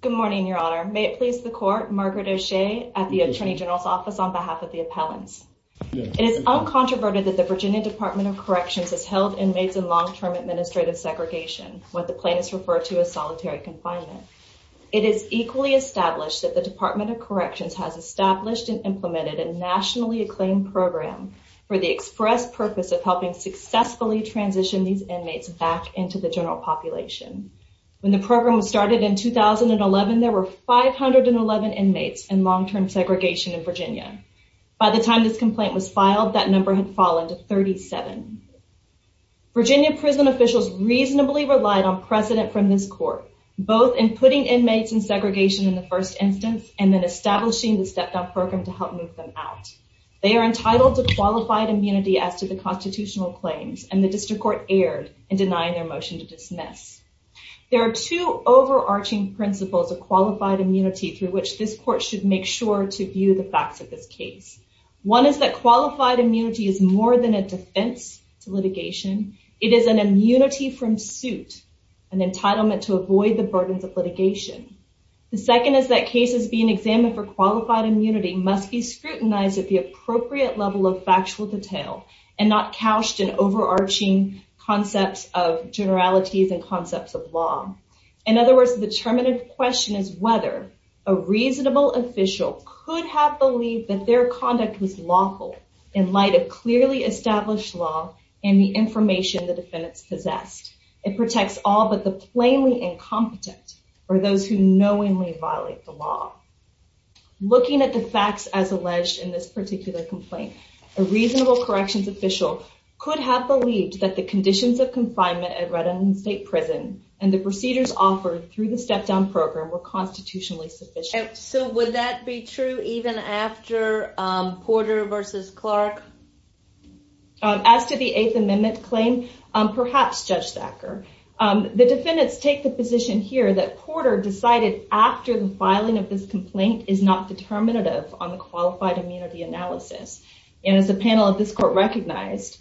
Good morning, Your Honor. May it please the Court, Margaret O'Shea at the Attorney General's Office on behalf of the appellants. It is uncontroverted that the Virginia Department of Corrections has held inmates in long-term administrative segregation, what the plaintiffs refer to as solitary confinement. It is equally established that the Department of Corrections has established and implemented a nationally acclaimed program for the express purpose of helping successfully transition these inmates back into the general population. When the program was started in 2011, there were 511 inmates in long-term segregation in Virginia. By the time this complaint was filed, that number had fallen to 37. Virginia prison officials reasonably relied on precedent from this court, both in putting inmates in segregation in the first instance and then establishing the step-down program to help move them out. They are entitled to qualified immunity as to the constitutional claims, and the district court erred in denying their motion to dismiss. There are two overarching principles of qualified immunity through which this court should make sure to view the facts of this case. One is that qualified immunity is more than a defense to litigation. It is an immunity from suit, an entitlement to avoid the burdens of litigation. The second is that an inmate examined for qualified immunity must be scrutinized at the appropriate level of factual detail and not couched in overarching concepts of generalities and concepts of law. In other words, the determinative question is whether a reasonable official could have believed that their conduct was lawful in light of clearly established law and the information the defendants possessed. It protects all but the plainly incompetent or those who knowingly violate the law. Looking at the facts as alleged in this particular complaint, a reasonable corrections official could have believed that the conditions of confinement at Red Island State Prison and the procedures offered through the step-down program were constitutionally sufficient. So would that be true even after Porter v. Clark? As to the Eighth Amendment claim, perhaps, Judge Thacker. The defendants take the position here that Porter decided after the filing of this complaint is not determinative on the qualified immunity analysis. And as a panel of this court recognized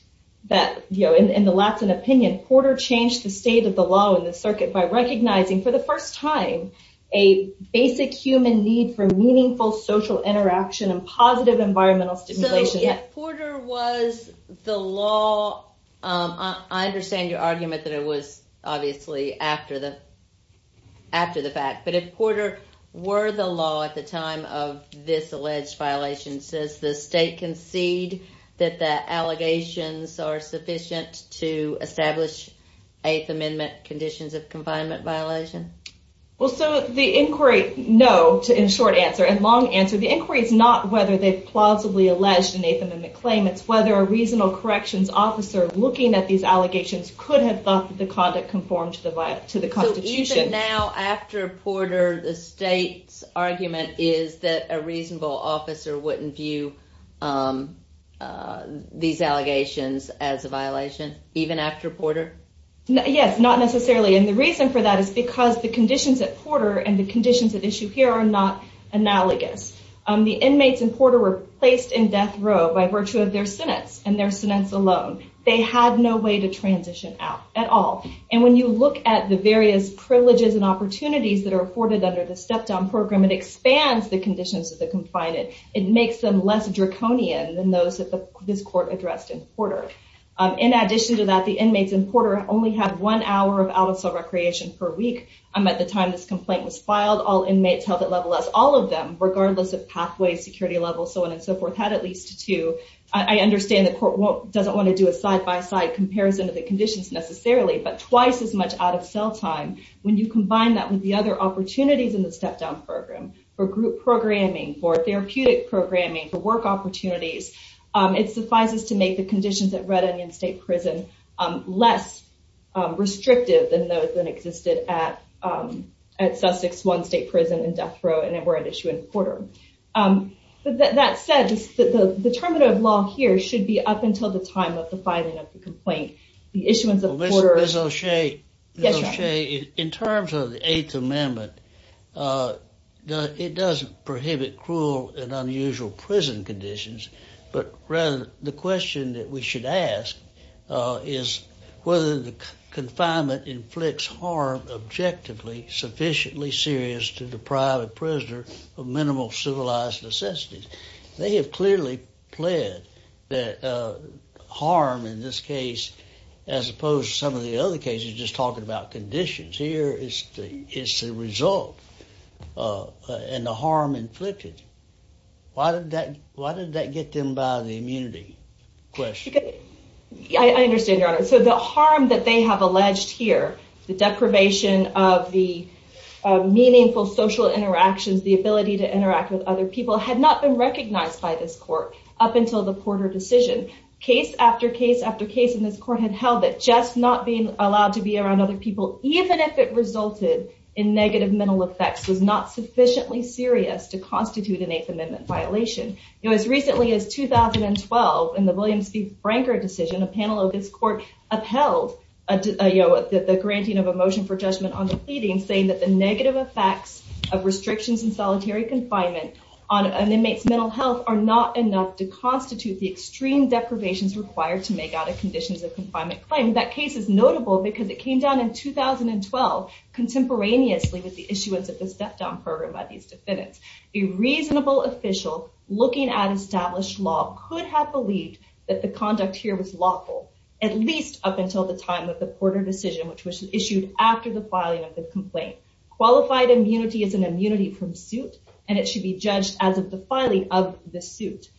that in the Latsen opinion, Porter changed the state of the law in the circuit by recognizing for the first time a basic human need for meaningful social interaction and positive environmental stimulation. So if Porter was the law, I understand your argument that it was obviously after the fact, but if Porter were the law at the time of this alleged violation, does the state concede that the allegations are sufficient to establish Eighth Amendment conditions of confinement violation? Well, so the inquiry, no, in short answer and long answer, the inquiry is not whether they've plausibly alleged an Eighth Amendment claim. It's whether a reasonable corrections officer looking at these allegations could have thought that the conduct conformed to the Constitution. So even now after Porter, the state's argument is that a reasonable officer wouldn't view these allegations as a violation, even after Porter? Yes, not necessarily. And the reason for that is because the conditions at Porter and the death row by virtue of their sentence and their sentence alone, they had no way to transition out at all. And when you look at the various privileges and opportunities that are afforded under the step down program, it expands the conditions of the confinement. It makes them less draconian than those that this court addressed in Porter. In addition to that, the inmates in Porter only have one hour of out of cell recreation per week. At the time this complaint was filed, all inmates held at level S, all of them, regardless of pathway, security level, so on and so forth, had at least two. I understand the court doesn't want to do a side-by-side comparison of the conditions necessarily, but twice as much out of cell time. When you combine that with the other opportunities in the step down program for group programming, for therapeutic programming, for work opportunities, it suffices to make the conditions at Red Onion State Prison less restrictive than those that existed at Sussex One State Prison and Death Row and were at issue in Porter. That said, the term of law here should be up until the time of the filing of the complaint. The issuance of Porter... Ms. O'Shea, in terms of the Eighth Amendment, it doesn't prohibit cruel and unusual prison conditions, but rather the question that we should ask is whether the confinement inflicts harm objectively sufficiently serious to deprive a prisoner of minimal civilized necessities. They have clearly pled that harm in this case, as opposed to some of the other cases just talking about conditions, here it's the result and the harm inflicted. Why did that get them by the immunity question? I understand, Your Honor. So the harm that they have alleged here, the deprivation of the meaningful social interactions, the ability to interact with other people, had not been recognized by this court up until the Porter decision. Case after case after case in this court had held that just not being allowed to be around other people, even if it resulted in negative mental effects, was not sufficiently serious to constitute an Eighth Amendment violation. As recently as 2012, in the Williams v. Branker decision, a panel of this court upheld the granting of a motion for judgment on the pleading, saying that the negative effects of restrictions in solitary confinement on an inmate's mental health are not enough to constitute the extreme deprivations required to make out of conditions of confinement claim. That case is notable because it came down in 2012 contemporaneously with the issuance of the step-down program by these defendants. A reasonable official looking at established law could have believed that the conduct here was lawful, at least up until the time of the Porter decision, which was issued after the filing of the complaint. Qualified immunity is an immunity from suit, and it should be judged as of the filing of the suit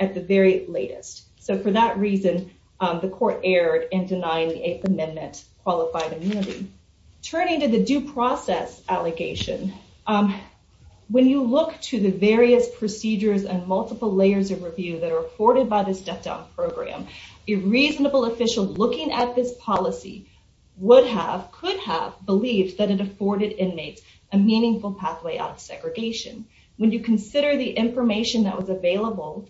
at the very latest. So for that reason, the court erred in denying the Eighth Amendment qualified immunity. Turning to the due process allegation, when you look to the various procedures and multiple layers of review that are afforded by this step-down program, a reasonable official looking at this policy would have, could have, believed that it afforded inmates a meaningful pathway out of segregation. When you consider the information that was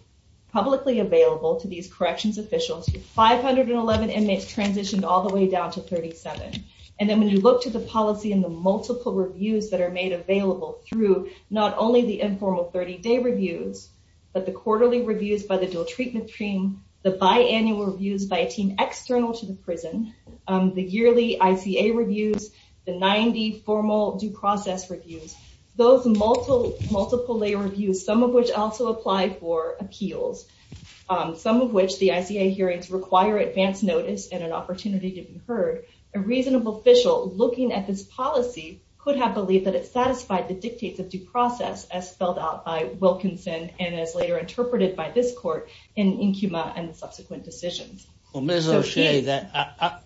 publicly available to these corrections officials, 511 inmates transitioned all the way down to 37. And then when you look to the policy and the multiple reviews that are made available through not only the informal 30-day reviews, but the quarterly reviews by the dual treatment team, the biannual reviews by a team external to the prison, the yearly ICA reviews, the 90 formal due process reviews, those multiple lay reviews, some of which also apply for immunity, some of which the ICA hearings require advance notice and an opportunity to be heard, a reasonable official looking at this policy could have believed that it satisfied the dictates of due process as spelled out by Wilkinson and as later interpreted by this court in Incuma and subsequent decisions. Well, Ms. O'Shea,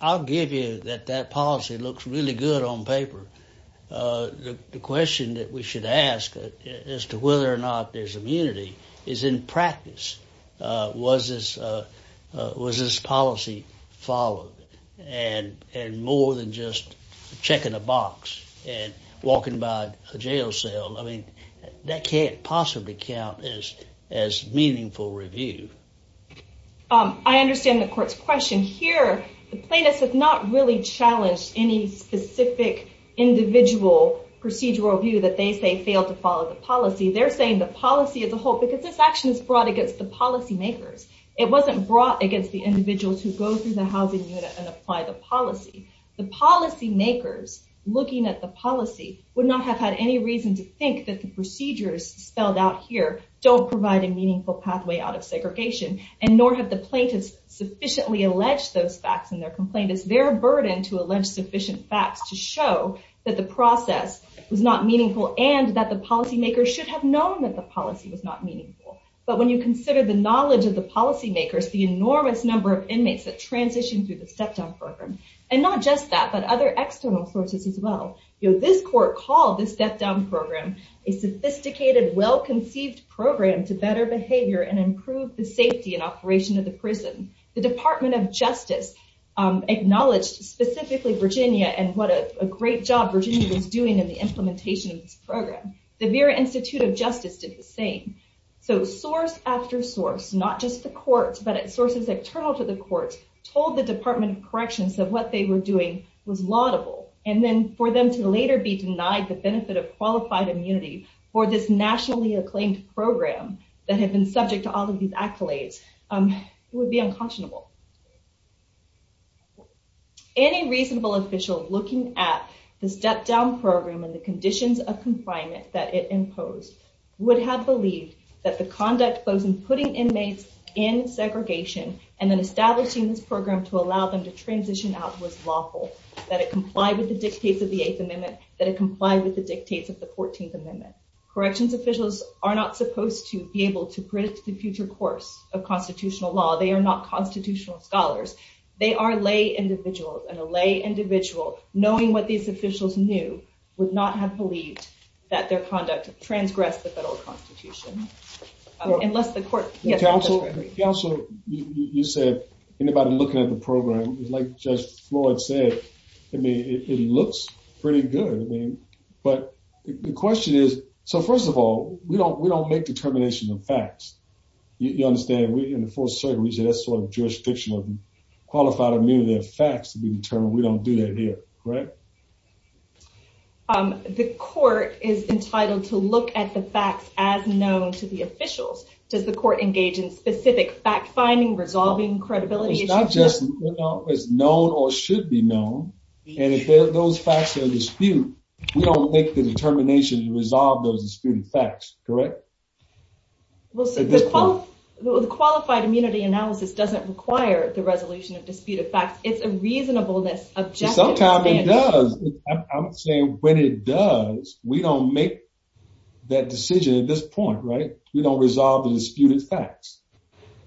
I'll give you that that policy looks really good on paper. The question that we should ask as to whether or not there's been practice, was this policy followed? And more than just checking a box and walking by a jail cell, I mean, that can't possibly count as meaningful review. I understand the court's question. Here, the plaintiffs have not really challenged any specific individual procedural review that they say failed to follow the policy. They're saying the policy as a whole, because this action is brought against the policymakers. It wasn't brought against the individuals who go through the housing unit and apply the policy. The policymakers looking at the policy would not have had any reason to think that the procedures spelled out here don't provide a meaningful pathway out of segregation and nor have the plaintiffs sufficiently alleged those facts in their complaint. It's their burden to allege sufficient facts to show that the process was not meaningful and that the policymakers should have known that the policy was not meaningful. But when you consider the knowledge of the policymakers, the enormous number of inmates that transition through the step-down program, and not just that, but other external sources as well, this court called this step-down program a sophisticated, well-conceived program to better behavior and improve the safety and operation of the prison. The Department of Justice acknowledged specifically Virginia and what a great job Virginia was doing in the implementation of this program. The Vera Institute of Justice did the same. Source after source, not just the courts, but sources external to the courts, told the Department of Corrections that what they were doing was laudable. Then for them to later be denied the benefit of qualified immunity for this nationally acclaimed program that had been subject to all of these accolades would be unconscionable. Any reasonable official looking at the step-down program and the conditions of confinement that it imposed would have believed that the conduct posed in putting inmates in segregation and then establishing this program to allow them to transition out was lawful, that it complied with the dictates of the Eighth Amendment, that it complied with the dictates of the Fourteenth Amendment. Corrections officials are not supposed to be able to predict the behavior of institutional scholars. They are lay individuals, and a lay individual knowing what these officials knew would not have believed that their conduct transgressed the federal constitution. Unless the court... Counsel, you said anybody looking at the program, like Judge Floyd said, it looks pretty good. The question is, first of all, we don't make determinations of facts. You understand, in the Fourth Circuit, we say that's sort of jurisdictional. Qualified immunity of facts to be determined, we don't do that here. Correct? The court is entitled to look at the facts as known to the officials. Does the court engage in specific fact-finding, resolving credibility issues? It's not just as known or should be known, and if those facts are in dispute, we don't make the determination to resolve those disputed facts. Correct? Well, the qualified immunity analysis doesn't require the resolution of disputed facts. It's a reasonableness, objective... Sometimes it does. I'm saying when it does, we don't make that decision at this point, right? We don't resolve the disputed facts.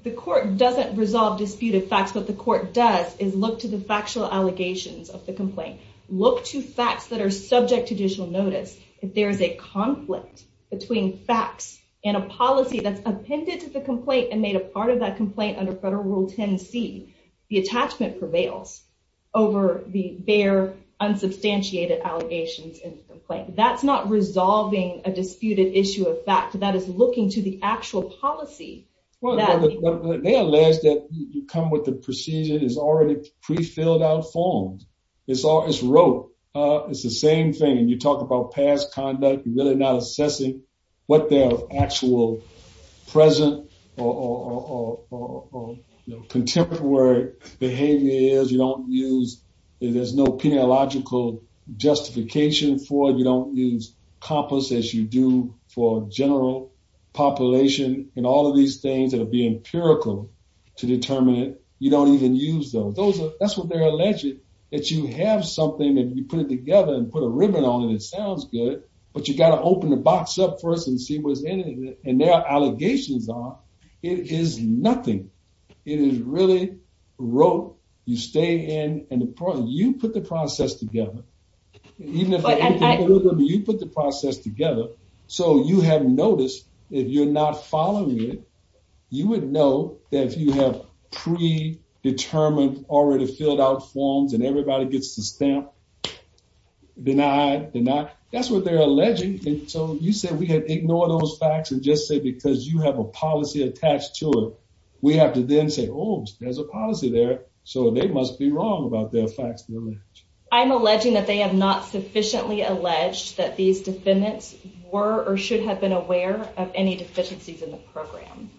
The court doesn't resolve disputed facts. What the court does is look to the factual allegations of the complaint. Look to facts that are subject to judicial notice. If there is a conflict between facts and a policy that's appended to the complaint and made a part of that complaint under Federal Rule 10C, the attachment prevails over the bare, unsubstantiated allegations in the complaint. That's not resolving a disputed issue of facts. That is looking to the actual policy that... They allege that you come with the procedure that's already pre-filled out, formed. It's the same thing. You talk about past conduct, you're really not assessing what their actual present or contemporary behavior is. You don't use... There's no peniological justification for it. You don't use compass as you do for general population. All of these things that are being empirical to determine it, you don't even use them. That's what they're alleging, that you have something and you put it together and put a ribbon on it. It sounds good, but you got to open the box up first and see what's in it. There are allegations on. It is nothing. It is really rote. You stay in and you put the process together. You put the process together, so you have noticed if you're not following it, you would know that if you have predetermined, already filled out forms and everybody gets the stamp, denied, that's what they're alleging. You said we had ignored those facts and just said because you have a policy attached to it, we have to then say, oh, there's a policy there, so they must be wrong about their facts. I'm alleging that they have not sufficiently alleged that these defendants were or should have been aware of any deficiencies in the program.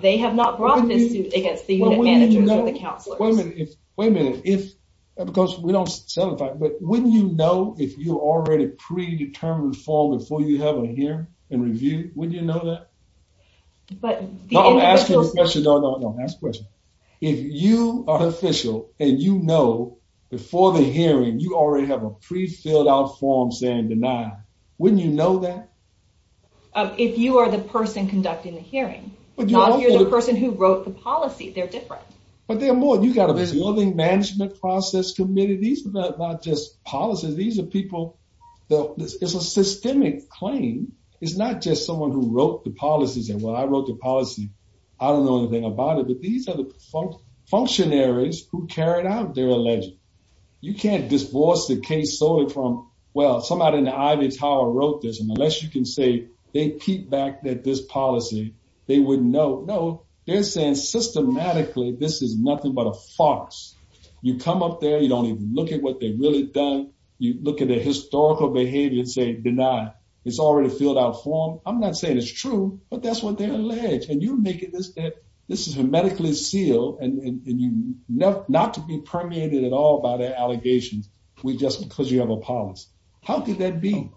They have not brought this against the unit managers or the counselors. Wait a minute. Because we don't satisfy, but wouldn't you know if you already predetermined form before you have a hearing and review? Wouldn't you know that? I'm asking a question. No, no, no. Ask a question. If you are official and you know before the hearing, you already have a pre-filled out form saying denied, wouldn't you know that? If you are the person conducting the hearing, not if you're the person who wrote the policy, they're different. But there are more. You've got a resolving management process committee. These are not just policies. These are people. It's a systemic claim. It's not just someone who wrote the policies. And when I wrote the policy, I don't know anything about it. But these are the functionaries who carried out their alleged. You can't divorce the case solely from, well, somebody in the Ivy Tower wrote this. And unless you can say they keep back that this policy, they wouldn't know. No, they're saying systematically this is nothing but a farce. You come up there. You don't even look at what they've really done. You look at the historical behavior and say, deny. It's already filled out form. I'm not saying it's true, but that's what they're alleged. And you make it this that this is a medically sealed and not to be permeated at all by the allegations. We just because you have a policy. How could that be?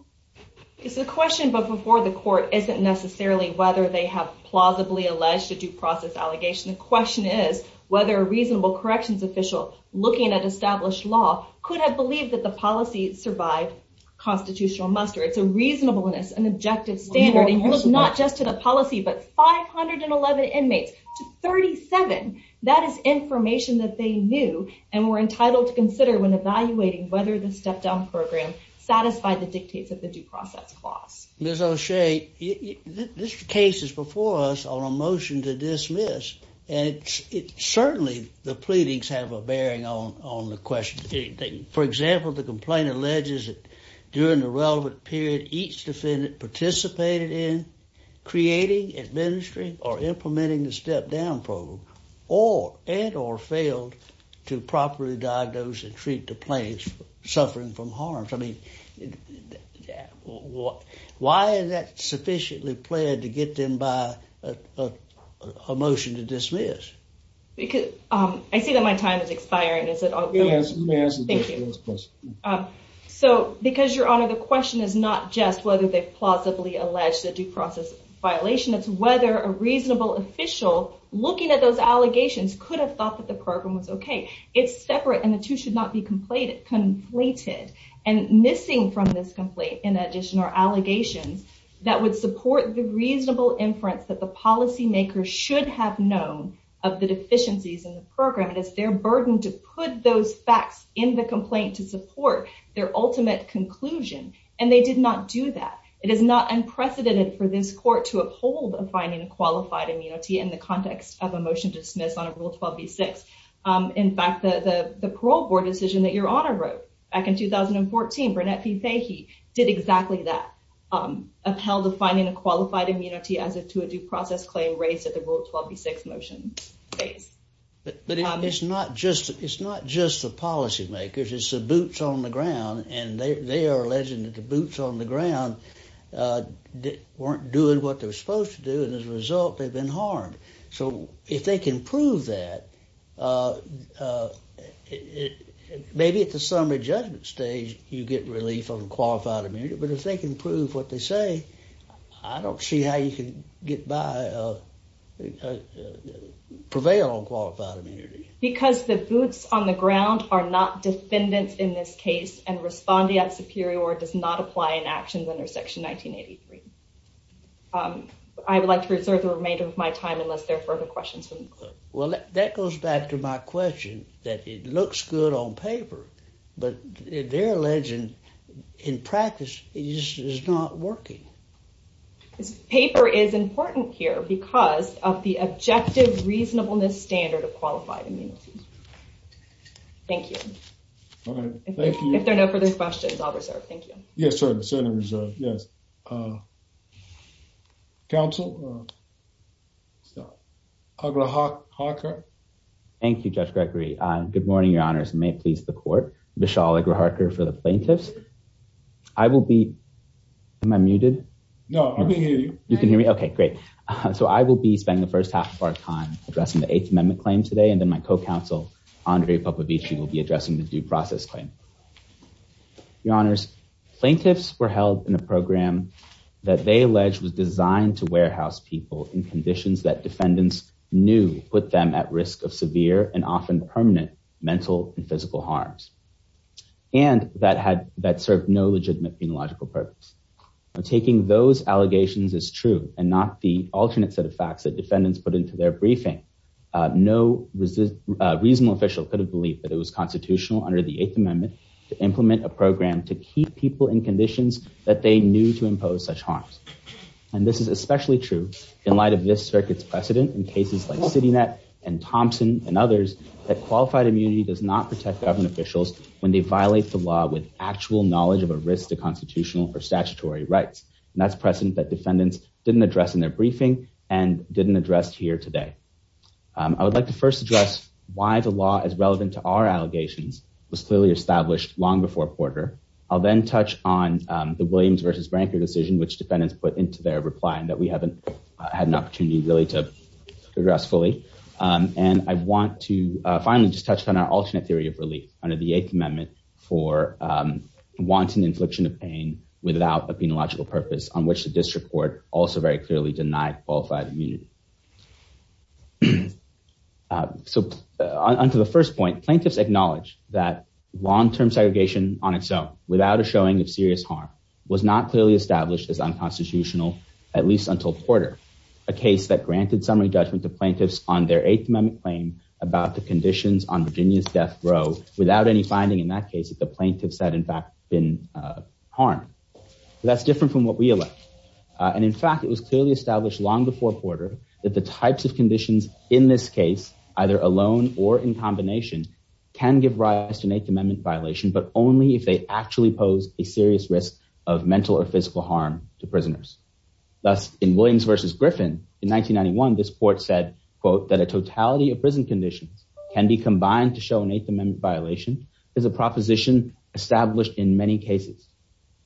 It's a question. But before the court isn't necessarily whether they have plausibly alleged a due process allegation. The question is whether a reasonable corrections official looking at established law could have believed that the policy survived constitutional muster. It's a reasonableness, an objective standard. Not just to the policy, but 511 inmates to 37. That is information that they knew and were entitled to consider when evaluating whether the step down program satisfied the dictates of the due process clause. Ms. O'Shea, this case is before us on a motion to dismiss. And it's certainly the pleadings have a bearing on the question. For example, the complaint alleges that during the relevant period, each defendant participated in creating, administering or implementing the step down program or and or failed to properly diagnose and treat the plaintiff suffering from harm. I mean, what? Why is that sufficiently played to get them by a motion to dismiss? I see that my time is expiring. So because your honor, the question is not just whether they plausibly allege the due process violation. It's whether a reasonable official looking at those allegations could have thought that the program was OK. It's separate and the two should not be completed, conflated and missing from this complaint. In addition, are allegations that would support the reasonable inference that the policymaker should have known of the deficiencies in the program, it is their burden to put those facts in the complaint to support their ultimate conclusion. And they did not do that. It is not unprecedented for this court to uphold a finding of qualified immunity in the context of a motion to dismiss on a rule 12B6. In fact, the the parole board decision that your honor wrote back in 2014, did exactly that, upheld the finding of qualified immunity as to a due process claim raised at the rule 12B6 motion. But it's not just it's not just the policymakers, it's the boots on the ground. And they are alleging that the boots on the ground weren't doing what they were supposed to do. And as a result, they've been harmed. So if they can prove that maybe at the summary judgment stage, you get relief on qualified immunity. But if they can prove what they say, I don't see how you can get by prevail on qualified immunity. Because the boots on the ground are not defendants in this case and respondeat superior does not apply an action under section 1983. I would like to reserve the remainder of my time unless there are further questions. Well, that goes back to my question that it looks good on paper. But they're alleging in practice is not working. This paper is important here because of the objective reasonableness standard of qualified immunity. Thank you. Thank you. If there are no further questions, I'll reserve. Thank you. Yes, sir. Yes. Yes. Counsel. So I'm going to hawk Hawker. Thank you, Judge Gregory. Good morning, Your Honors. May it please the court. Vishal Agra Harker for the plaintiffs. I will be my muted. No, you can hear me. OK, great. So I will be spending the first half of our time addressing the Eighth Amendment claim today. And then my co-counsel, Andre Papa Beach, you will be addressing the due process claim. Your Honors, plaintiffs were held in a program that they allege was designed to warehouse people in conditions that defendants knew put them at risk of severe and often permanent mental and physical harms. And that had that served no legitimate logical purpose of taking those allegations is true and not the alternate set of facts that defendants put into their briefing. No reasonable official could have believed that it was constitutional under the Eighth Amendment to implement a program to keep people in conditions that they knew to impose such harms. And this is especially true in light of this circuit's precedent in cases like CityNet and Thompson and others that qualified immunity does not protect government officials when they violate the law with actual knowledge of a risk to constitutional or statutory rights. And that's precedent that defendants didn't address in their briefing and didn't address here today. I would like to first address why the law is relevant to our allegations was clearly established long before Porter. I'll then touch on the Williams versus Branker decision, which defendants put into their reply and that we haven't had an opportunity really to address fully. And I want to finally just touch on our alternate theory of relief under the Eighth Amendment for wanton infliction of pain without a penological purpose on which the district court also very clearly denied qualified immunity. So, onto the first point plaintiffs acknowledge that long term segregation on its own, without a showing of serious harm was not clearly established as unconstitutional, at least until Porter, a case that granted summary judgment to plaintiffs on their eighth amendment claim about the conditions on Virginia's death row, without any finding in that case that the plaintiffs had in fact been harmed. That's different from what we elect. And in fact, it was clearly established long before Porter, that the types of conditions in this case, either alone or in combination can give rise to an Eighth Amendment violation but only if they actually pose a serious risk of mental or physical harm to prisoners. Thus, in Williams versus Griffin in 1991 this court said, quote, that a totality of prison conditions can be combined to show an Eighth Amendment violation is a proposition established in many cases.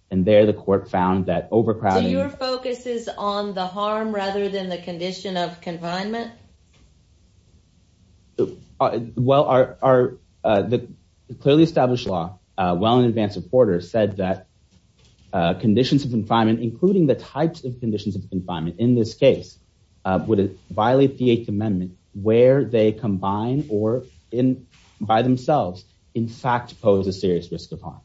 And there the court found that overcrowding focuses on the harm rather than the condition of confinement. Well, are the clearly established law, well in advance of Porter said that conditions of confinement, including the types of conditions of confinement in this case, would violate the Eighth Amendment, where they combine or in by themselves, in fact, pose a serious risk of harm.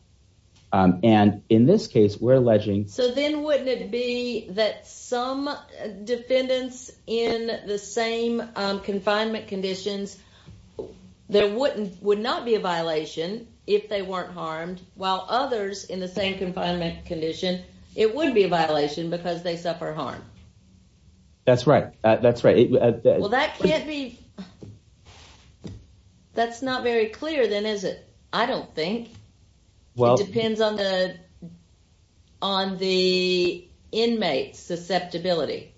And in this case, we're alleging. So then wouldn't it be that some defendants in the same confinement conditions, there wouldn't would not be a violation if they weren't harmed, while others in the same confinement condition, it would be a violation because they suffer harm. That's right, that's right. Well, that can't be. That's not very clear then is it. I don't think. Well, depends on the, on the inmates susceptibility.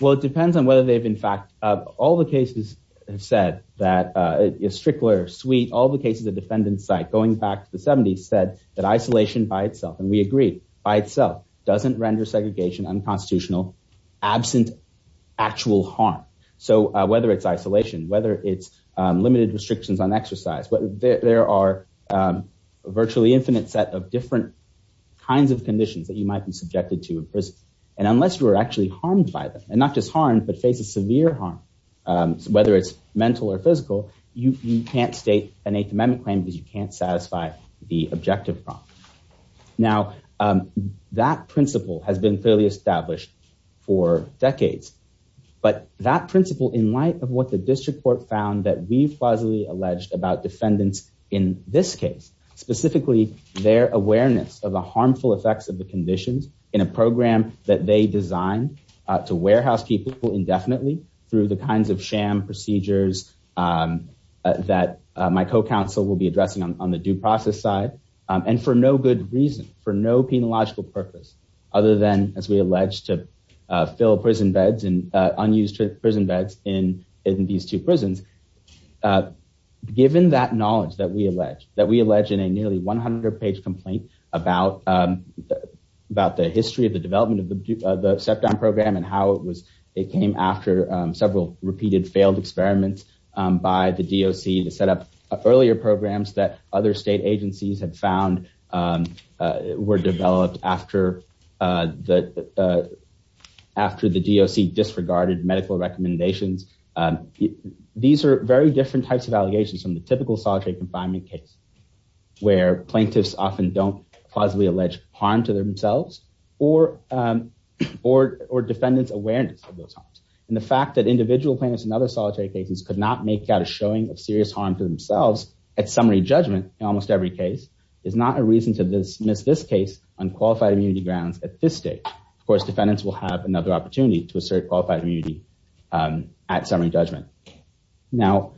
Well, it depends on whether they've in fact all the cases have said that is strickler sweet all the cases of defendant site going back to the 70s said that isolation by itself and we agree by itself doesn't render segregation unconstitutional absent actual harm. So, whether it's isolation whether it's limited restrictions on exercise but there are virtually infinite set of different kinds of conditions that you might be subjected to. And unless you are actually harmed by them, and not just harm but face a severe harm. Whether it's mental or physical, you can't state an eighth amendment claim because you can't satisfy the objective from now, that principle has been clearly established for decades. But that principle in light of what the district court found that we've allegedly alleged about defendants. In this case, specifically, their awareness of the harmful effects of the conditions in a program that they designed to warehouse people indefinitely through the kinds of sham procedures that my co counsel will be addressing on the due process side. And for no good reason for no penological purpose, other than, as we alleged to fill prison beds and unused prison beds in in these two prisons. Given that knowledge that we allege that we allege in a nearly 100 page complaint about, about the history of the development of the set down program and how it was, it came after several repeated failed experiments by the DLC to set up earlier programs that other state agencies had found were developed after the, after the DLC disregarded medical recommendations. These are very different types of allegations from the typical solitary confinement case where plaintiffs often don't possibly allege harm to themselves, or, or, or defendants awareness of those harms, and the fact that individual planets and other solitary cases could not make out a showing of serious harm to themselves. At summary judgment, almost every case is not a reason to this miss this case on qualified immunity grounds at this stage, of course defendants will have another opportunity to assert qualified immunity at summary judgment. Now,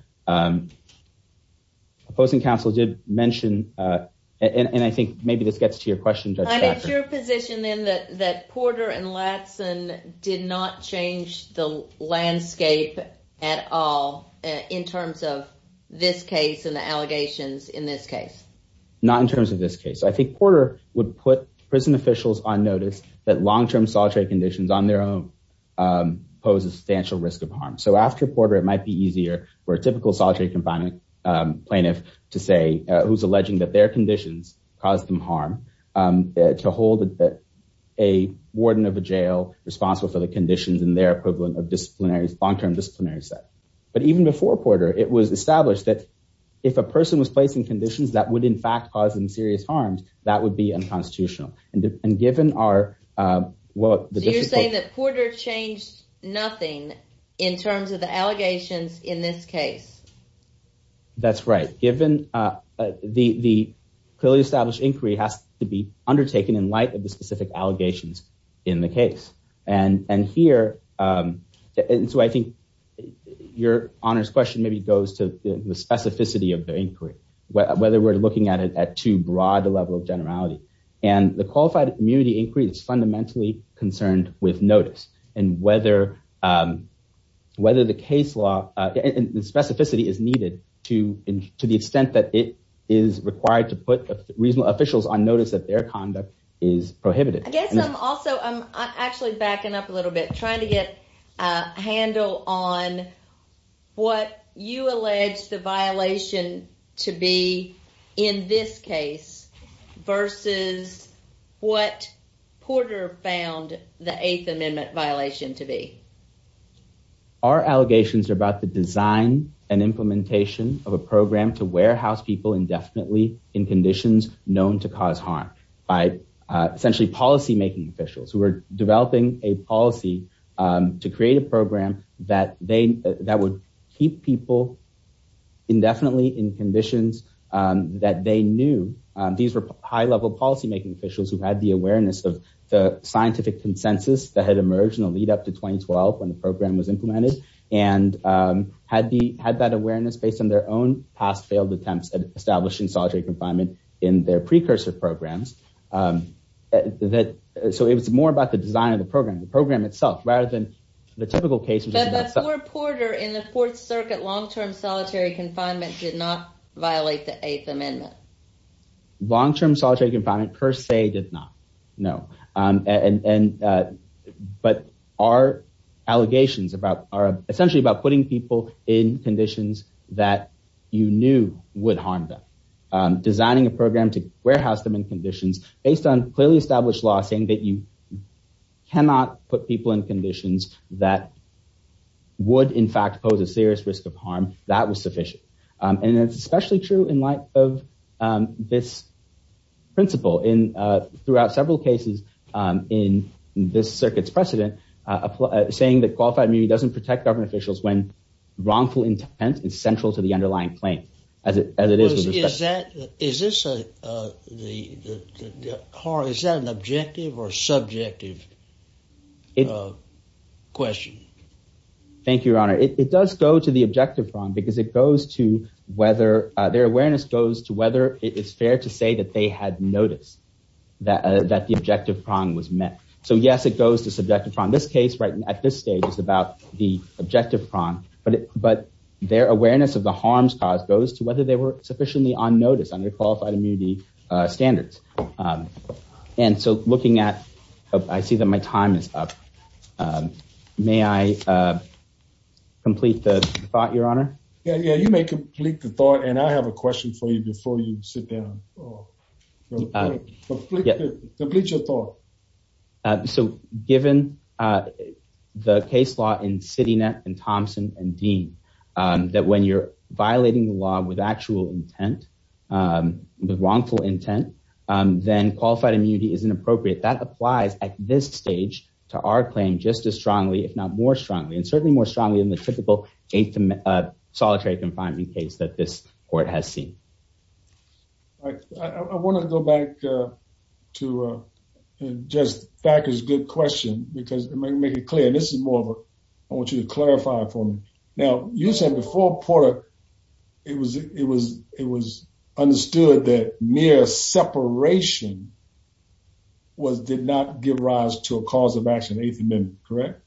opposing counsel did mention, and I think maybe this gets to your question. Your position in that that Porter and Latsin did not change the landscape at all in terms of this case and the allegations in this case, not in terms of this case I think Porter would put prison officials on notice that long term solitary conditions on their own. So after Porter, it might be easier for a typical solitary confinement plaintiff to say, who's alleging that their conditions, cause them harm to hold it that a warden of a jail responsible for the conditions and their equivalent of disciplinary long term disciplinary set, but even before Porter, it was established that if a person was placing conditions that would in fact causing serious harms, that would be unconstitutional, and given our. Well, you're saying that Porter changed nothing in terms of the allegations in this case. That's right, given the clearly established inquiry has to be undertaken in light of the specific allegations in the case. And, and here. And so I think your honors question maybe goes to the specificity of the inquiry, whether we're looking at it at too broad a level of generality, and the qualified immunity inquiry is fundamentally concerned with notice, and whether, whether the case law and specificity is needed to, to the extent that it is required to put reasonable officials on notice that their conduct is prohibited. I guess I'm also, I'm actually backing up a little bit trying to get a handle on what you allege the violation to be in this case, versus what Porter found the eighth amendment violation to be. Our allegations are about the design and implementation of a program to warehouse people indefinitely in conditions known to cause harm by essentially policymaking officials who are developing a policy to create a program that they, that would keep people indefinitely in conditions that they knew. These were high level policymaking officials who had the awareness of the scientific consensus that had emerged in the lead up to 2012 when the program was implemented, and had the had that awareness based on their own past failed attempts at establishing solitary confinement in their precursor programs that. So it was more about the design of the program, the program itself, rather than the typical cases. Porter in the fourth circuit long term solitary confinement did not violate the eighth amendment. Long term solitary confinement per se did not. No. And, but our allegations about are essentially about putting people in conditions that you knew would harm them. Designing a program to warehouse them in conditions based on clearly established law saying that you cannot put people in conditions that would in fact pose a serious risk of harm. That was sufficient, and it's especially true in light of this principle in throughout several cases in this circuits precedent, saying that qualified me doesn't protect government officials when wrongful intent is central to the underlying claim as it as it is. Is that is this the car is that an objective or subjective question. Thank you, Your Honor, it does go to the objective from because it goes to whether their awareness goes to whether it is fair to say that they had noticed that that the objective prong was met. So, yes, it goes to subjective from this case right at this stage is about the objective from, but, but their awareness of the harms cause goes to whether they were sufficiently on notice under qualified immunity standards. And so, looking at, I see that my time is up. May I complete the thought, Your Honor. Yeah, yeah, you may complete the thought and I have a question for you before you sit down. Yeah. So, given the case law in city net and Thompson and Dean, that when you're violating the law with actual intent with wrongful intent, then qualified immunity is inappropriate that applies at this stage to our claim just as strongly if not more strongly and certainly more strongly than the typical Solitary confining case that this court has seen. I want to go back to just factors. Good question, because it may make it clear. This is more of a I want you to clarify for me. Now, you said before Porter, it was it was it was understood that mere separation. Was did not give rise to a cause of action. Eighth Amendment. Correct.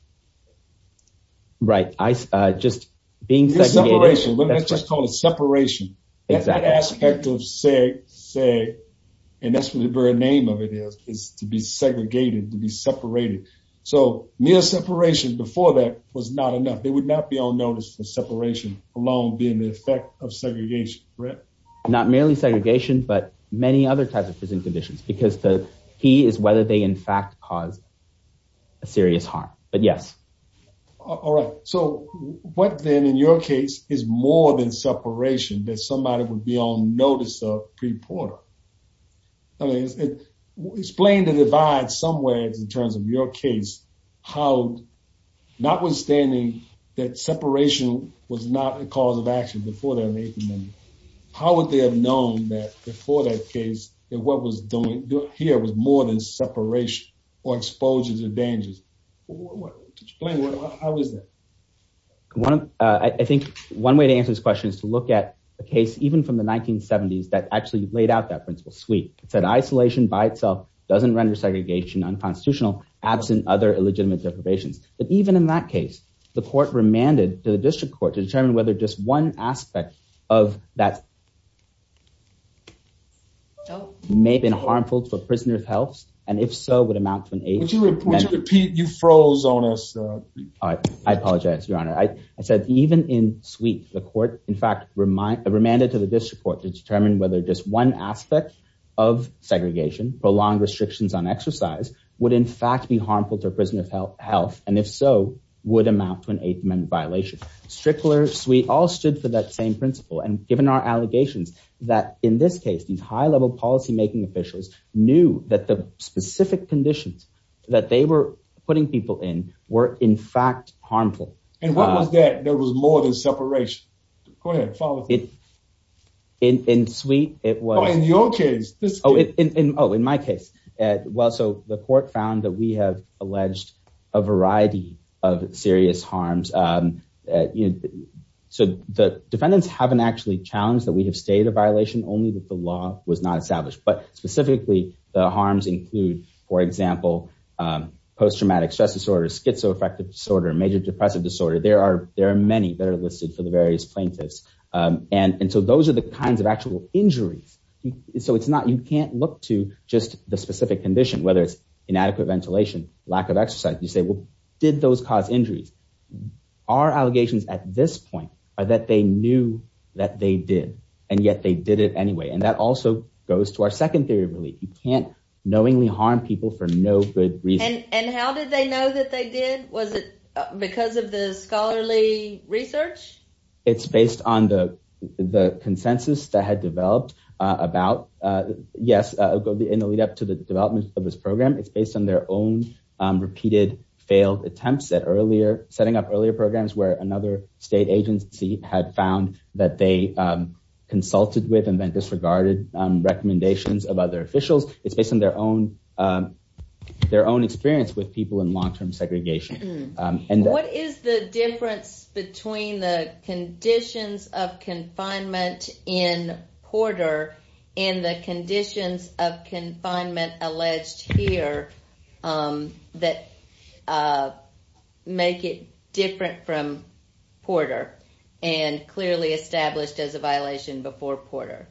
Right. I just being separation. Separation is that aspect of say, say, and that's what the very name of it is, is to be segregated to be separated. So, mere separation before that was not enough, they would not be on notice for separation, along being the effect of segregation. Not merely segregation, but many other types of prison conditions because the key is whether they in fact cause a serious harm. But yes. All right. So what then in your case is more than separation that somebody would be on notice of pre Porter. Explain the divide somewhere in terms of your case, how notwithstanding that separation was not a cause of action before that. How would they have known that before that case that what was doing here was more than separation or exposure to dangers. I think one way to answer this question is to look at the case, even from the 1970s that actually laid out that principle suite said isolation by itself doesn't render segregation unconstitutional absent other illegitimate deprivations, but even in that case, the court remanded to the district court to determine whether just one aspect of that. May have been harmful to a prisoner of health, and if so would amount to an age. You froze on us. I apologize, Your Honor, I said, even in suite, the court, in fact, remind the remanded to the district court to determine whether just one aspect of segregation prolonged restrictions on exercise would in fact be harmful to a prisoner of health, health, and if so would amount to an eight minute violation. Strickler suite all stood for that same principle and given our allegations that, in this case, these high level policymaking officials knew that the specific conditions that they were putting people in were in fact harmful. And what was that there was more than separation. Go ahead. Follow it. In sweet. It was in your case. Oh, in my case. Well, so the court found that we have alleged a variety of serious harms. So the defendants haven't actually challenged that we have stayed a violation only that the law was not established, but specifically the harms include, for example, post traumatic stress disorder schizoaffective disorder major depressive disorder. There are there are many that are listed for the various plaintiffs. And so those are the kinds of actual injuries. So it's not you can't look to just the specific condition, whether it's inadequate ventilation, lack of exercise, you say, well, did those cause injuries are allegations at this point that they knew that they did. And yet they did it anyway. And that also goes to our second theory. Really, you can't knowingly harm people for no good reason. And how did they know that they did? Was it because of the scholarly research? It's based on the the consensus that had developed about, yes, in the lead up to the development of this program. It's based on their own repeated failed attempts at earlier setting up earlier programs where another state agency had found that they consulted with and then disregarded recommendations of other officials. It's based on their own their own experience with people in long term segregation. And what is the difference between the conditions of confinement in Porter in the conditions of confinement alleged here that make it different from Porter and clearly established as a violation before Porter?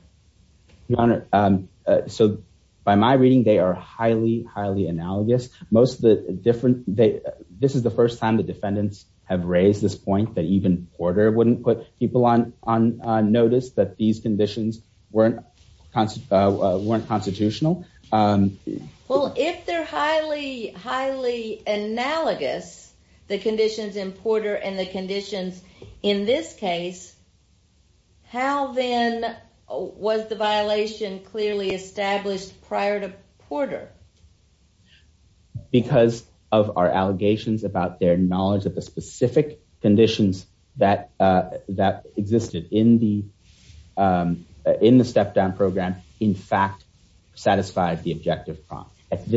Your Honor, so by my reading, they are highly, highly analogous. Most of the different. This is the first time the defendants have raised this point that even Porter wouldn't put people on notice that these conditions weren't weren't constitutional. Well, if they're highly, highly analogous, the conditions in Porter and the conditions in this case. How then was the violation clearly established prior to Porter? Because of our allegations about their knowledge of the specific conditions that that existed in the in the step down program, in fact, satisfied the objective. Well, in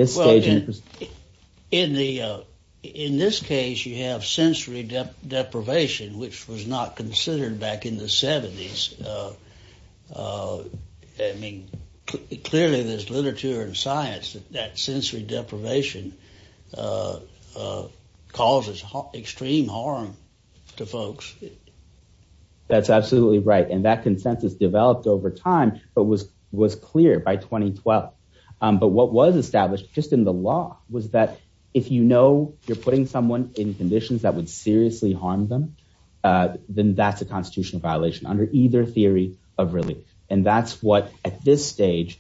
the in this case, you have sensory deprivation, which was not considered back in the 70s. I mean, clearly, there's literature and science that sensory deprivation causes extreme harm to folks. That's absolutely right. And that consensus developed over time, but was was clear by 2012. But what was established just in the law was that if you know you're putting someone in conditions that would seriously harm them, then that's a constitutional violation under either theory of relief. And that's what at this stage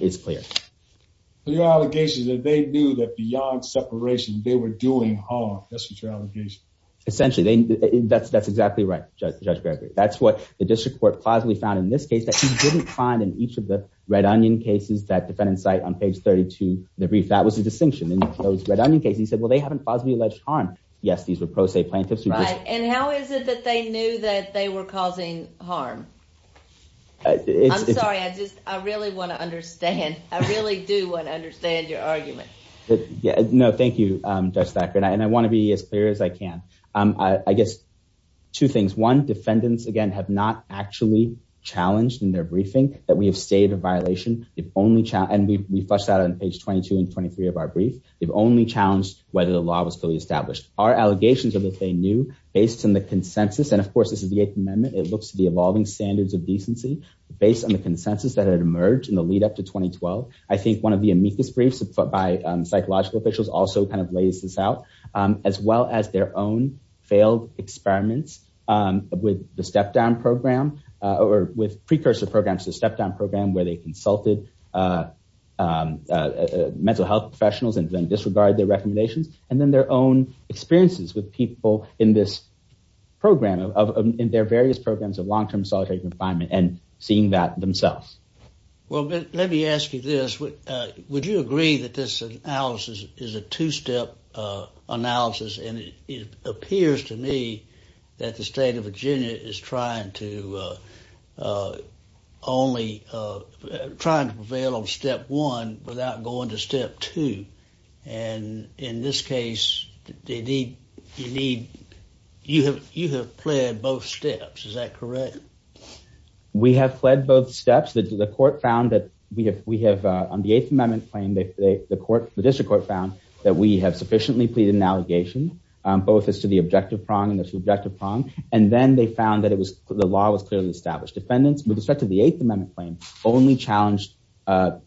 is clear. So your allegation is that they knew that beyond separation, they were doing harm. That's your allegation. Essentially, that's that's exactly right, Judge Gregory. That's what the district court possibly found in this case that he didn't find in each of the red onion cases that defendants cite on page 32. The brief that was a distinction in those red onion case. He said, well, they haven't possibly alleged harm. Yes, these were pro se plaintiffs. Right. And how is it that they knew that they were causing harm? I'm sorry, I just I really want to understand. I really do want to understand your argument. No, thank you. That's accurate. And I want to be as clear as I can. I guess two things. One, defendants, again, have not actually challenged in their briefing that we have stated a violation. If only. And we flushed out on page 22 and 23 of our brief. They've only challenged whether the law was fully established. Our allegations are that they knew based on the consensus. And of course, this is the eighth amendment. It looks at the evolving standards of decency based on the consensus that had emerged in the lead up to 2012. I think one of the amicus briefs by psychological officials also kind of lays this out as well as their own failed experiments with the step down program or with precursor programs to step down program where they consulted mental health professionals and then disregard their recommendations. And then their own experiences with people in this program of their various programs of long term solitary confinement and seeing that themselves. Well, let me ask you this. Would you agree that this analysis is a two step analysis? And it appears to me that the state of Virginia is trying to only trying to prevail on step one without going to step two. And in this case, they need you need you have you have played both steps. Is that correct? We have fled both steps. The court found that we have we have on the eighth amendment claim that the court, the district court found that we have sufficiently pleaded an allegation both as to the objective prong and the subjective prong. And then they found that it was the law was clearly established. Defendants with respect to the eighth amendment claim only challenged that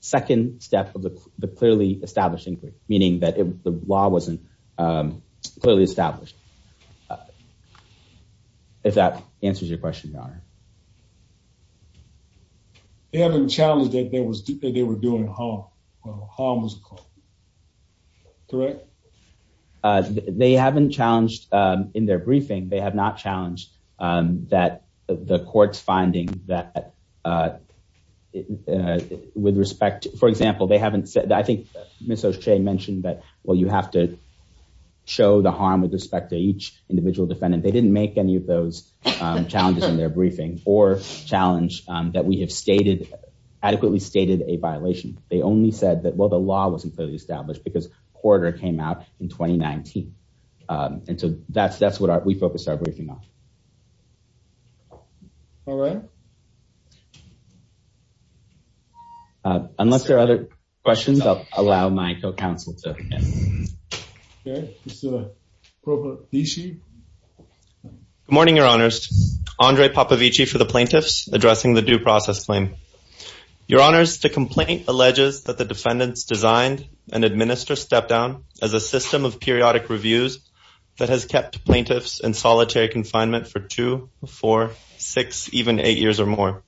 second step of the clearly established inquiry, meaning that the law wasn't clearly established. If that answers your question, your honor. They haven't challenged that there was that they were doing harm. Well, harm was correct. They haven't challenged in their briefing. They have not challenged that the court's finding that with respect, for example, they haven't said that. I think Ms. O'Shea mentioned that. Well, you have to show the harm with respect to each individual defendant. They didn't make any of those challenges in their briefing or challenge that we have stated adequately stated a violation. They only said that, well, the law wasn't clearly established because quarter came out in twenty nineteen. And so that's that's what we focused our briefing on. All right. Unless there are other questions, I'll allow my co-counsel to. Good morning, your honors. Andre Popovich for the plaintiffs addressing the due process claim. Your honors, the complaint alleges that the defendants designed and administer step down as a system of periodic reviews that has kept plaintiffs in solitary confinement for two, four, six, even eight years or more.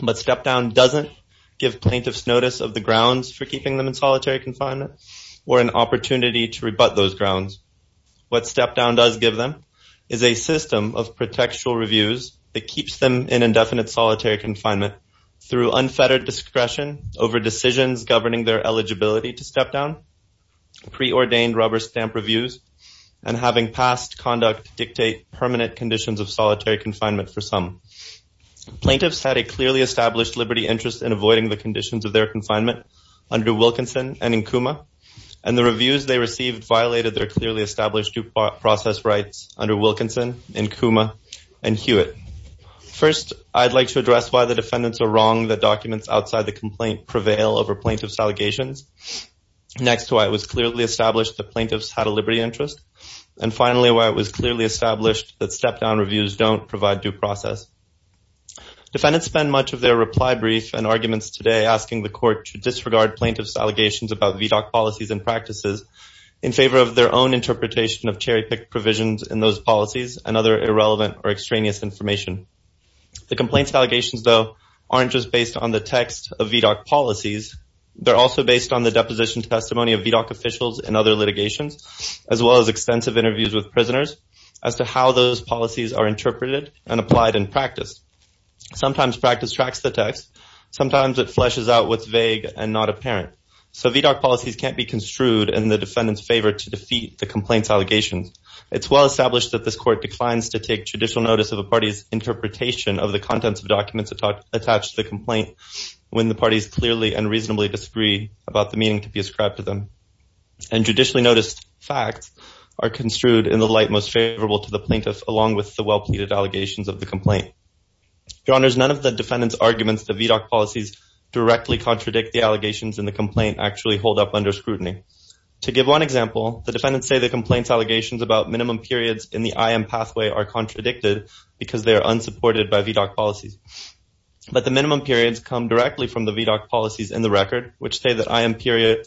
But step down doesn't give plaintiffs notice of the grounds for keeping them in solitary confinement or an opportunity to rebut those grounds. What step down does give them is a system of protection reviews that keeps them in indefinite solitary confinement through unfettered discretion over decisions governing their eligibility to step down. Preordained rubber stamp reviews and having past conduct dictate permanent conditions of solitary confinement for some plaintiffs had a clearly established liberty interest in avoiding the conditions of their confinement under Wilkinson and Nkuma. And the reviews they received violated their clearly established due process rights under Wilkinson and Nkuma and Hewitt. First, I'd like to address why the defendants are wrong that documents outside the complaint prevail over plaintiff's allegations. Next, why it was clearly established the plaintiffs had a liberty interest. And finally, why it was clearly established that step down reviews don't provide due process. Defendants spend much of their reply brief and arguments today asking the court to disregard plaintiff's allegations about VDOC policies and practices in favor of their own interpretation of cherry pick provisions in those policies and other irrelevant or extraneous information. The complaints allegations, though, aren't just based on the text of VDOC policies. They're also based on the deposition testimony of VDOC officials and other litigations, as well as extensive interviews with prisoners as to how those policies are interpreted and applied in practice. Sometimes practice tracks the text. Sometimes it fleshes out what's vague and not apparent. So VDOC policies can't be construed in the defendant's favor to defeat the complaint's allegations. It's well established that this court declines to take judicial notice of a party's interpretation of the contents of documents attached to the complaint when the parties clearly and reasonably disagree about the meaning to be ascribed to them. And judicially noticed facts are construed in the light most favorable to the plaintiff along with the well-pleaded allegations of the complaint. Your Honors, none of the defendant's arguments to VDOC policies directly contradict the allegations in the complaint actually hold up under scrutiny. To give one example, the defendants say the complaint's allegations about minimum periods in the IAM pathway are contradicted because they are unsupported by VDOC policies. But the minimum periods come directly from the VDOC policies in the record, which say that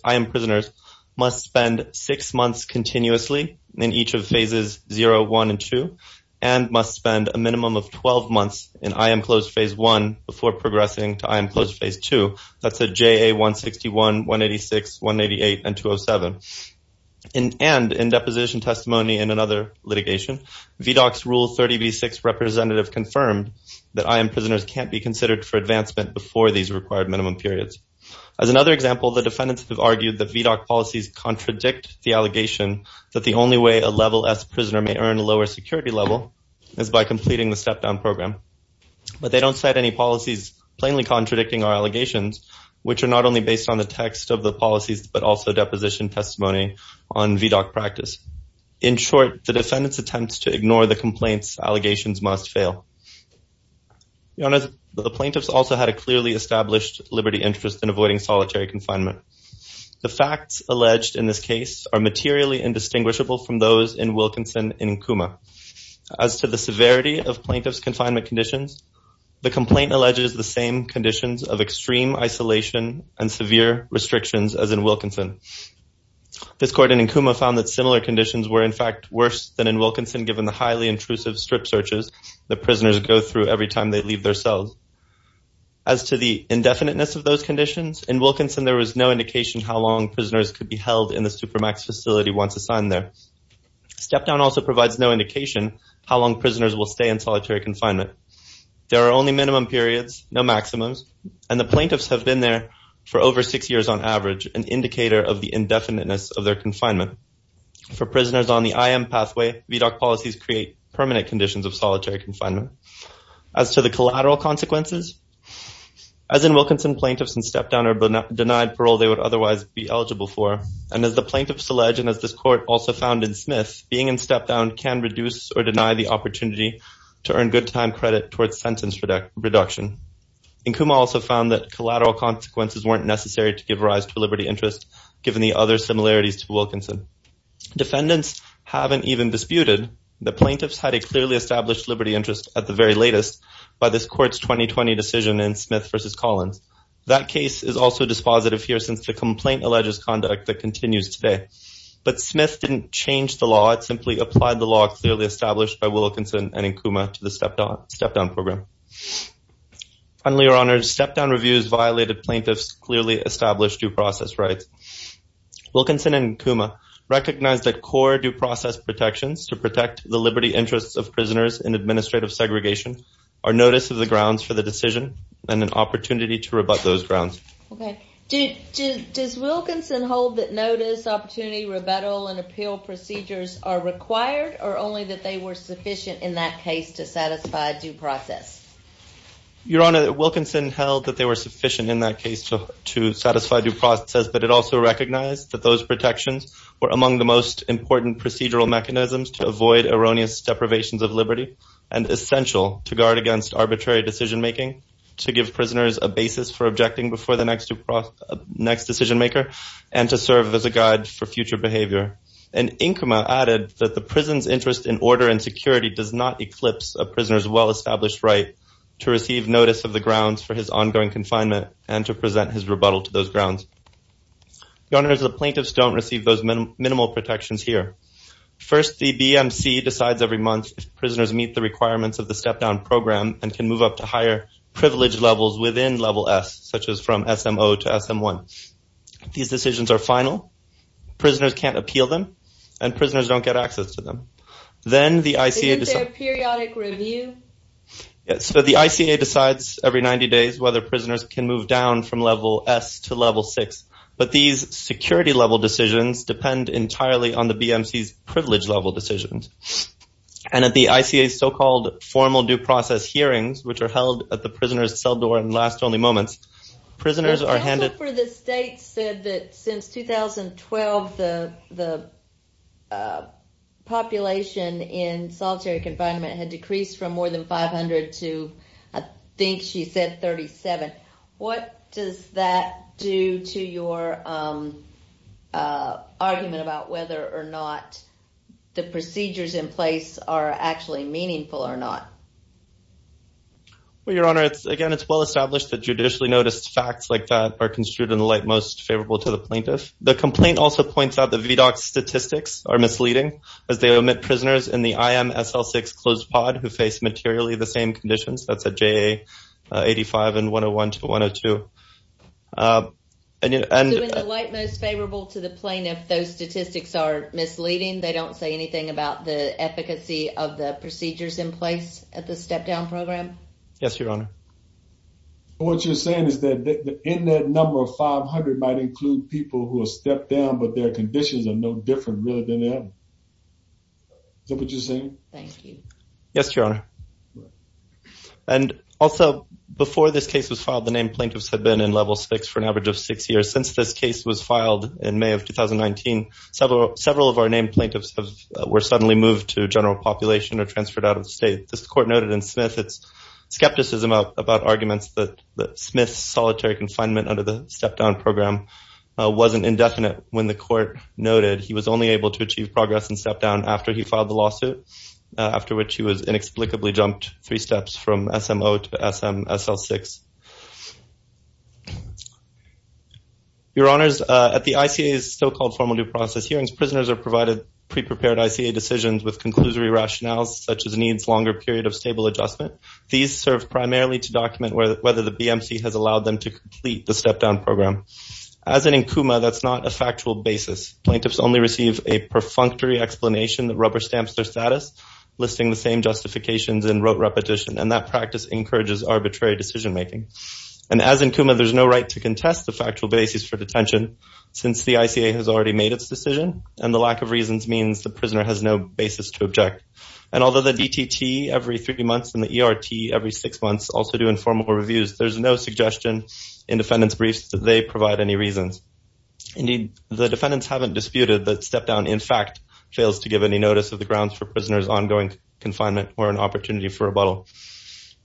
IAM prisoners must spend six months continuously in each of phases 0, 1, and 2, and must spend a minimum of 12 months in IAM closed phase 1 before progressing to IAM closed phase 2. That's a JA 161, 186, 188, and 207. And in deposition testimony in another litigation, VDOC's Rule 30b-6 representative confirmed that IAM prisoners can't be considered for advancement before these required minimum periods. As another example, the defendants have argued that VDOC policies contradict the allegation that the only way a level S prisoner may earn a lower security level is by completing the step-down program. But they don't cite any policies plainly contradicting our allegations, which are not only based on the text of the policies but also deposition testimony on VDOC practice. In short, the defendant's attempts to ignore the complaints' allegations must fail. Your Honor, the plaintiffs also had a clearly established liberty interest in avoiding solitary confinement. The facts alleged in this case are materially indistinguishable from those in Wilkinson and Nkuma. As to the severity of plaintiffs' confinement conditions, the complaint alleges the same conditions of extreme isolation and severe restrictions as in Wilkinson. This court in Nkuma found that similar conditions were in fact worse than in Wilkinson given the highly intrusive strip searches that prisoners go through every time they leave their cells. As to the indefiniteness of those conditions, in Wilkinson there was no indication how long prisoners could be held in the Supermax facility once assigned there. Step-down also provides no indication how long prisoners will stay in solitary confinement. There are only minimum periods, no maximums, and the plaintiffs have been there for over six years on average, an indicator of the indefiniteness of their confinement. For prisoners on the IM pathway, VDOC policies create permanent conditions of solitary confinement. As to the collateral consequences, as in Wilkinson, plaintiffs in step-down are denied parole they would otherwise be eligible for. And as the plaintiffs allege and as this court also found in Smith, being in step-down can reduce or deny the opportunity to earn good time credit towards sentence reduction. Nkuma also found that collateral consequences weren't necessary to give rise to liberty interest given the other similarities to Wilkinson. Defendants haven't even disputed that plaintiffs had a clearly established liberty interest at the very latest by this court's 2020 decision in Smith v. Collins. That case is also dispositive here since the complaint alleges conduct that continues today. But Smith didn't change the law, it simply applied the law clearly established by Wilkinson and Nkuma to the step-down program. Finally, Your Honor, step-down reviews violated plaintiffs' clearly established due process rights. Wilkinson and Nkuma recognized that core due process protections to protect the liberty interests of prisoners in administrative segregation are notice of the grounds for the decision and an opportunity to rebut those grounds. Does Wilkinson hold that notice, opportunity, rebuttal, and appeal procedures are required or only that they were sufficient in that case to satisfy due process? Your Honor, Wilkinson held that they were sufficient in that case to satisfy due process, but it also recognized that those protections were among the most important procedural mechanisms to avoid erroneous deprivations of liberty and essential to guard against arbitrary decision-making, to give prisoners a basis for objecting before the next decision-maker, and to serve as a guide for future behavior. And Nkuma added that the prison's interest in order and security does not eclipse a prisoner's well-established right to receive notice of the grounds for his ongoing confinement and to present his rebuttal to those grounds. Your Honor, the plaintiffs don't receive those minimal protections here. First, the BMC decides every month if prisoners meet the requirements of the step-down program and can move up to higher privilege levels within Level S, such as from SMO to SM1. These decisions are final, prisoners can't appeal them, and prisoners don't get access to them. Isn't there a periodic review? So the ICA decides every 90 days whether prisoners can move down from Level S to Level 6, but these security-level decisions depend entirely on the BMC's privilege-level decisions. And at the ICA's so-called formal due process hearings, which are held at the prisoners' cell door in last-only moments, prisoners are handed... The counsel for the state said that since 2012, the population in solitary confinement had decreased from more than 500 to, I think she said 37. What does that do to your argument about whether or not the procedures in place are actually meaningful or not? Well, Your Honor, again, it's well-established that judicially noticed facts like that are construed in the light most favorable to the plaintiff. The complaint also points out that VDOC statistics are misleading, as they omit prisoners in the IMSL6 closed pod who face materially the same conditions, that's at JA85 and 101 to 102. So in the light most favorable to the plaintiff, those statistics are misleading? They don't say anything about the efficacy of the procedures in place at the step-down program? Yes, Your Honor. What you're saying is that in that number, 500 might include people who have stepped down, but their conditions are no different, really, than the others. Is that what you're saying? Thank you. Yes, Your Honor. And also, before this case was filed, the named plaintiffs had been in level six for an average of six years. Since this case was filed in May of 2019, several of our named plaintiffs were suddenly moved to general population or transferred out of the state. This court noted in Smith its skepticism about arguments that Smith's solitary confinement under the step-down program wasn't indefinite when the court noted he was only able to achieve progress in step-down after he filed the lawsuit, after which he was inexplicably jumped three steps from SMO to SL6. Your Honors, at the ICA's so-called formal due process hearings, prisoners are provided pre-prepared ICA decisions with conclusory rationales, such as needs longer period of stable adjustment. These serve primarily to document whether the BMC has allowed them to complete the step-down program. As in Nkuma, that's not a factual basis. Plaintiffs only receive a perfunctory explanation that rubber-stamps their status, listing the same justifications in rote repetition, and that practice encourages arbitrary decision-making. And as in Nkuma, there's no right to contest the factual basis for detention, since the ICA has already made its decision, and the lack of reasons means the prisoner has no basis to object. And although the DTT every three months and the ERT every six months also do informal reviews, there's no suggestion in defendant's briefs that they provide any reasons. Indeed, the defendants haven't disputed that step-down, in fact, fails to give any notice of the grounds for prisoners' ongoing confinement or an opportunity for rebuttal.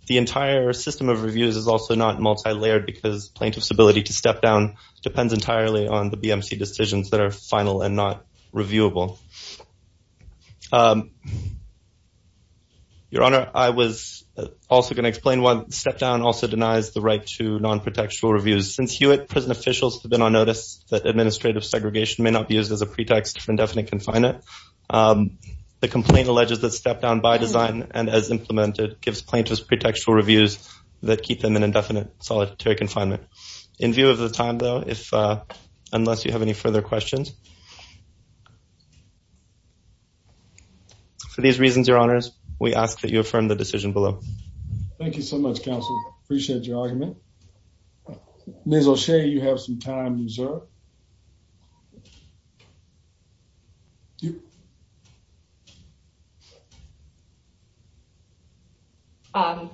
The entire system of reviews is also not multi-layered because plaintiff's ability to step-down depends entirely on the BMC decisions that are final and not reviewable. Your Honor, I was also going to explain why step-down also denies the right to non-protectual reviews. Since Hewitt, prison officials have been on notice that administrative segregation may not be used as a pretext for indefinite confinement. The complaint alleges that step-down, by design and as implemented, gives plaintiffs pretextual reviews that keep them in indefinite solitary confinement. In view of the time, though, unless you have any further questions, for these reasons, Your Honors, we ask that you affirm the decision below. Thank you so much, counsel. Appreciate your argument. Ms. O'Shea, you have some time reserved.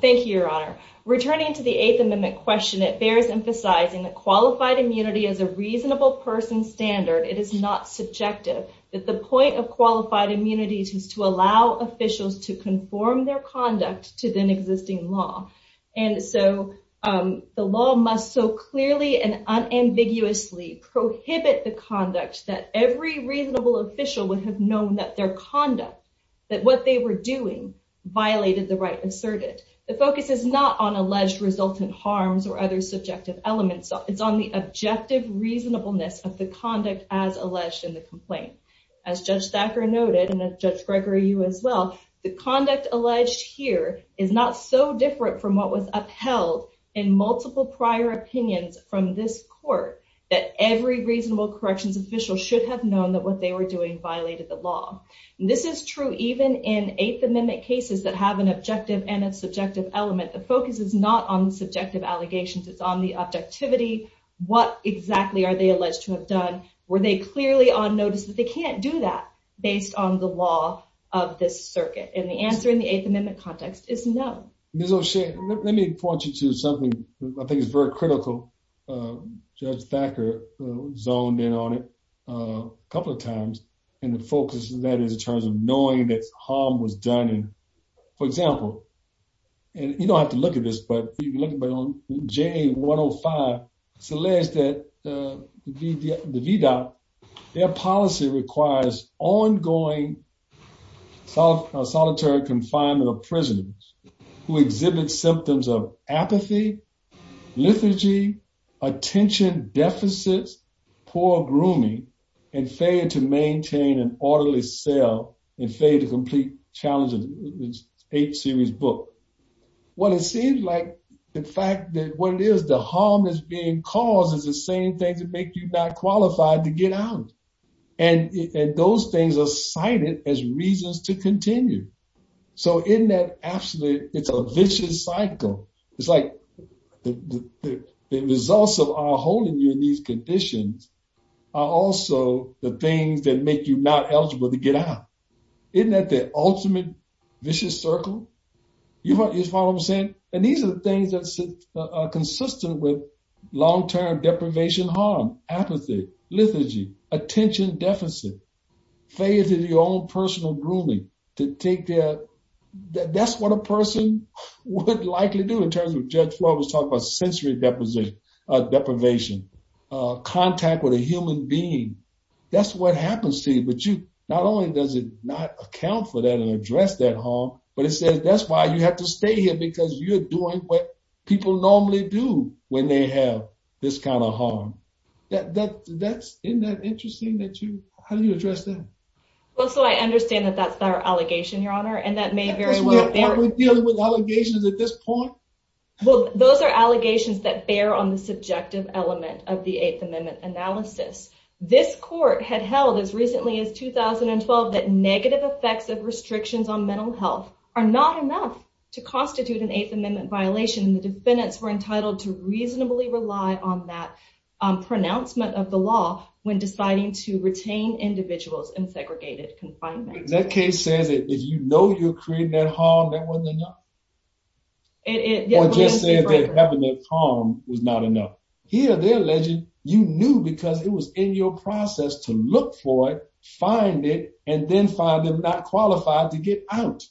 Thank you, Your Honor. Returning to the Eighth Amendment question, it bears emphasizing that qualified immunity is a reasonable person's standard. It is not subjective that the point of qualified immunity is to allow officials to conform their conduct to then-existing law. The law must so clearly and unambiguously prohibit the conduct that every reasonable official would have known that their conduct, that what they were doing, violated the right asserted. The focus is not on alleged resultant harms or other subjective elements. It's on the objective reasonableness of the conduct as alleged in the complaint. As Judge Thacker noted, and Judge Gregory, you as well, the conduct alleged here is not so different from what was upheld in multiple prior opinions from this court, that every reasonable corrections official should have known that what they were doing violated the law. This is true even in Eighth Amendment cases that have an objective and a subjective element. The focus is not on subjective allegations. It's on the objectivity. What exactly are they alleged to have done? Were they clearly on notice that they can't do that based on the law of this circuit? And the answer in the Eighth Amendment context is no. Ms. O'Shea, let me point you to something I think is very critical. Judge Thacker zoned in on it a couple of times, and the focus of that is in terms of knowing that harm was done. For example, and you don't have to look at this, but if you look at J-105, it's alleged that the VDOT, their policy requires ongoing solitary confinement of prisoners who exhibit symptoms of apathy, liturgy, attention deficits, poor grooming, and failure to maintain an orderly cell, and failure to complete challenges in the H-series book. Well, it seems like the fact that what it is, the harm is being caused is the same thing to make you not qualified to get out of prison. And those things are cited as reasons to continue. So isn't that absolutely, it's a vicious cycle. It's like the results of our holding you in these conditions are also the things that make you not eligible to get out. Isn't that the ultimate vicious circle? You follow what I'm saying? And these are the things that are consistent with liturgy, attention deficit, failure to do your own personal grooming, to take care, that's what a person would likely do in terms of Judge Floyd was talking about sensory deposition, deprivation, contact with a human being. That's what happens to you. But you, not only does it not account for that and address that harm, but it says that's why you have to stay here because you're doing what people normally do when they have this kind of harm. Isn't that interesting that you, how do you address that? Well, so I understand that that's our allegation, Your Honor, and that may very well be. Are we dealing with allegations at this point? Well, those are allegations that bear on the subjective element of the Eighth Amendment analysis. This court had held as recently as 2012 that negative effects of restrictions on mental health are not enough to constitute an Eighth Amendment violation and the defendants were entitled to reasonably rely on that on pronouncement of the law when deciding to retain individuals in segregated confinement. That case says that if you know you're creating that harm, that wasn't enough. Or just saying that having that harm was not enough. Here, they're alleging you knew because it was in your process to look for it, find it, and then find them not qualified to get out.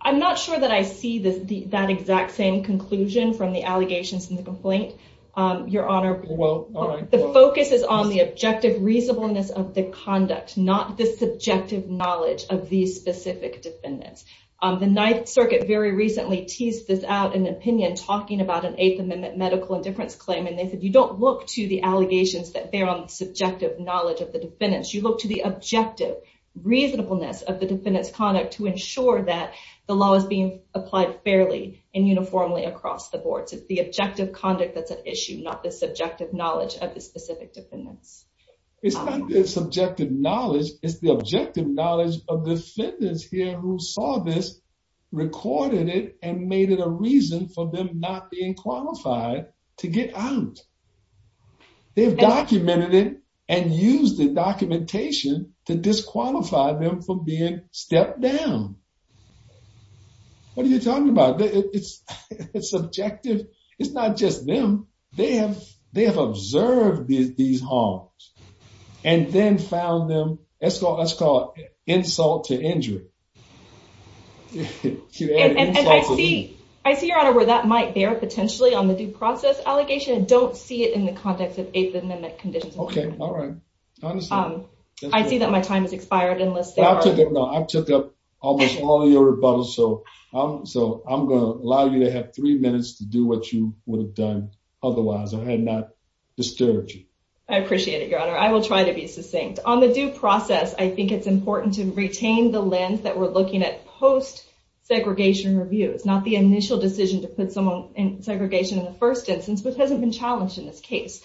I'm not sure that I see that exact same conclusion from the allegations in the complaint, Your Honor. Well, all right. The focus is on the objective reasonableness of the conduct, not the subjective knowledge of these specific defendants. The Ninth Circuit very recently teased this out in an opinion talking about an Eighth Amendment medical indifference claim and they said you don't look to the allegations that bear on the subjective knowledge of the defendants. You look to the objective reasonableness of the defendants' conduct to ensure that the law is being applied fairly and uniformly across the boards. It's the objective conduct that's at issue, not the subjective knowledge of the specific defendants. It's not the subjective knowledge. It's the objective knowledge of the defendants here who saw this, recorded it, and made it a reason for them not being qualified to get out. They've documented it and used the documentation to disqualify them from being stepped down. What are you talking about? It's subjective. It's not just them. They have observed these harms and then found them, let's call it insult to injury. And I see, Your Honor, where that might bear potentially on the due process allegation. I don't see it in the context of Eighth Amendment conditions. Okay, all right. I see that my time has expired unless there are... No, I took up almost all of your rebuttals, so I'm going to allow you to have three minutes to do what you would have done otherwise. I had not disturbed you. I appreciate it, Your Honor. I will try to be succinct. On the due process, I think it's important to retain the lens that we're looking at post-segregation review. It's not the initial decision to put someone in segregation in the first instance, which hasn't been challenged in this case.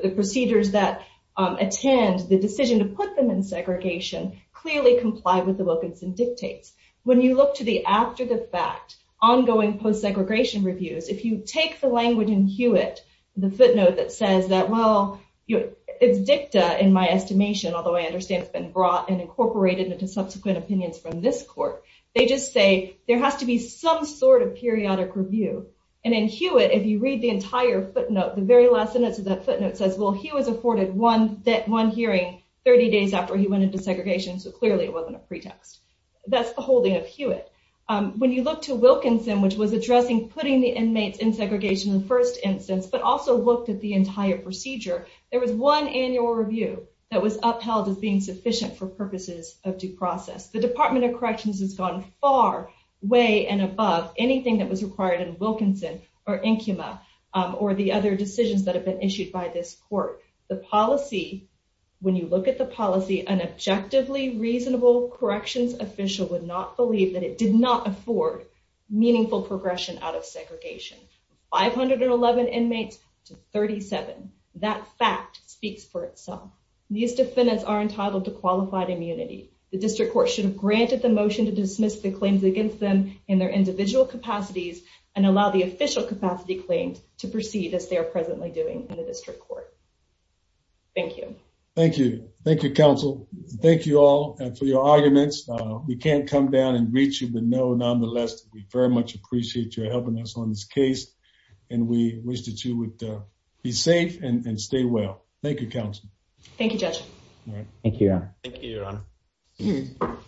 The procedures that attend, the decision to put them in segregation clearly comply with the Wilkinson dictates. When you look to the after-the-fact, ongoing post-segregation reviews, if you take the language in Hewitt, the footnote that says that, well, it's dicta in my estimation, although I understand it's been brought and incorporated into subsequent opinions from this court. They just say there has to be some sort of periodic review. And in Hewitt, if you read the entire footnote, the very last sentence of that footnote says, well, he was afforded one hearing 30 days after he went into segregation, so clearly it wasn't a pretext. That's the holding of Hewitt. When you look to Wilkinson, which was addressing putting the inmates in segregation in the first instance, but also looked at the entire procedure, there was one annual review that was upheld as being sufficient for purposes of due process. The Department of Corrections has gone far, way and above anything that was required in Wilkinson or Incuma or the other decisions that have been issued by this court. The policy, when you look at the policy, an objectively reasonable corrections official would not believe that it did not afford meaningful progression out of segregation. 511 inmates to 37. That fact speaks for itself. These defendants are entitled to qualified immunity. The district court should have granted the motion to dismiss the claims against them in their individual capacities and allow the official capacity claims to proceed as they are presently doing in the district court. Thank you. Thank you. Thank you, counsel. Thank you all for your arguments. We can't come down and reach you, but nonetheless, we very much appreciate your helping us on this case, and we wish that you would be safe Thank you, counsel. Thank you, Judge. Thank you, Your Honor.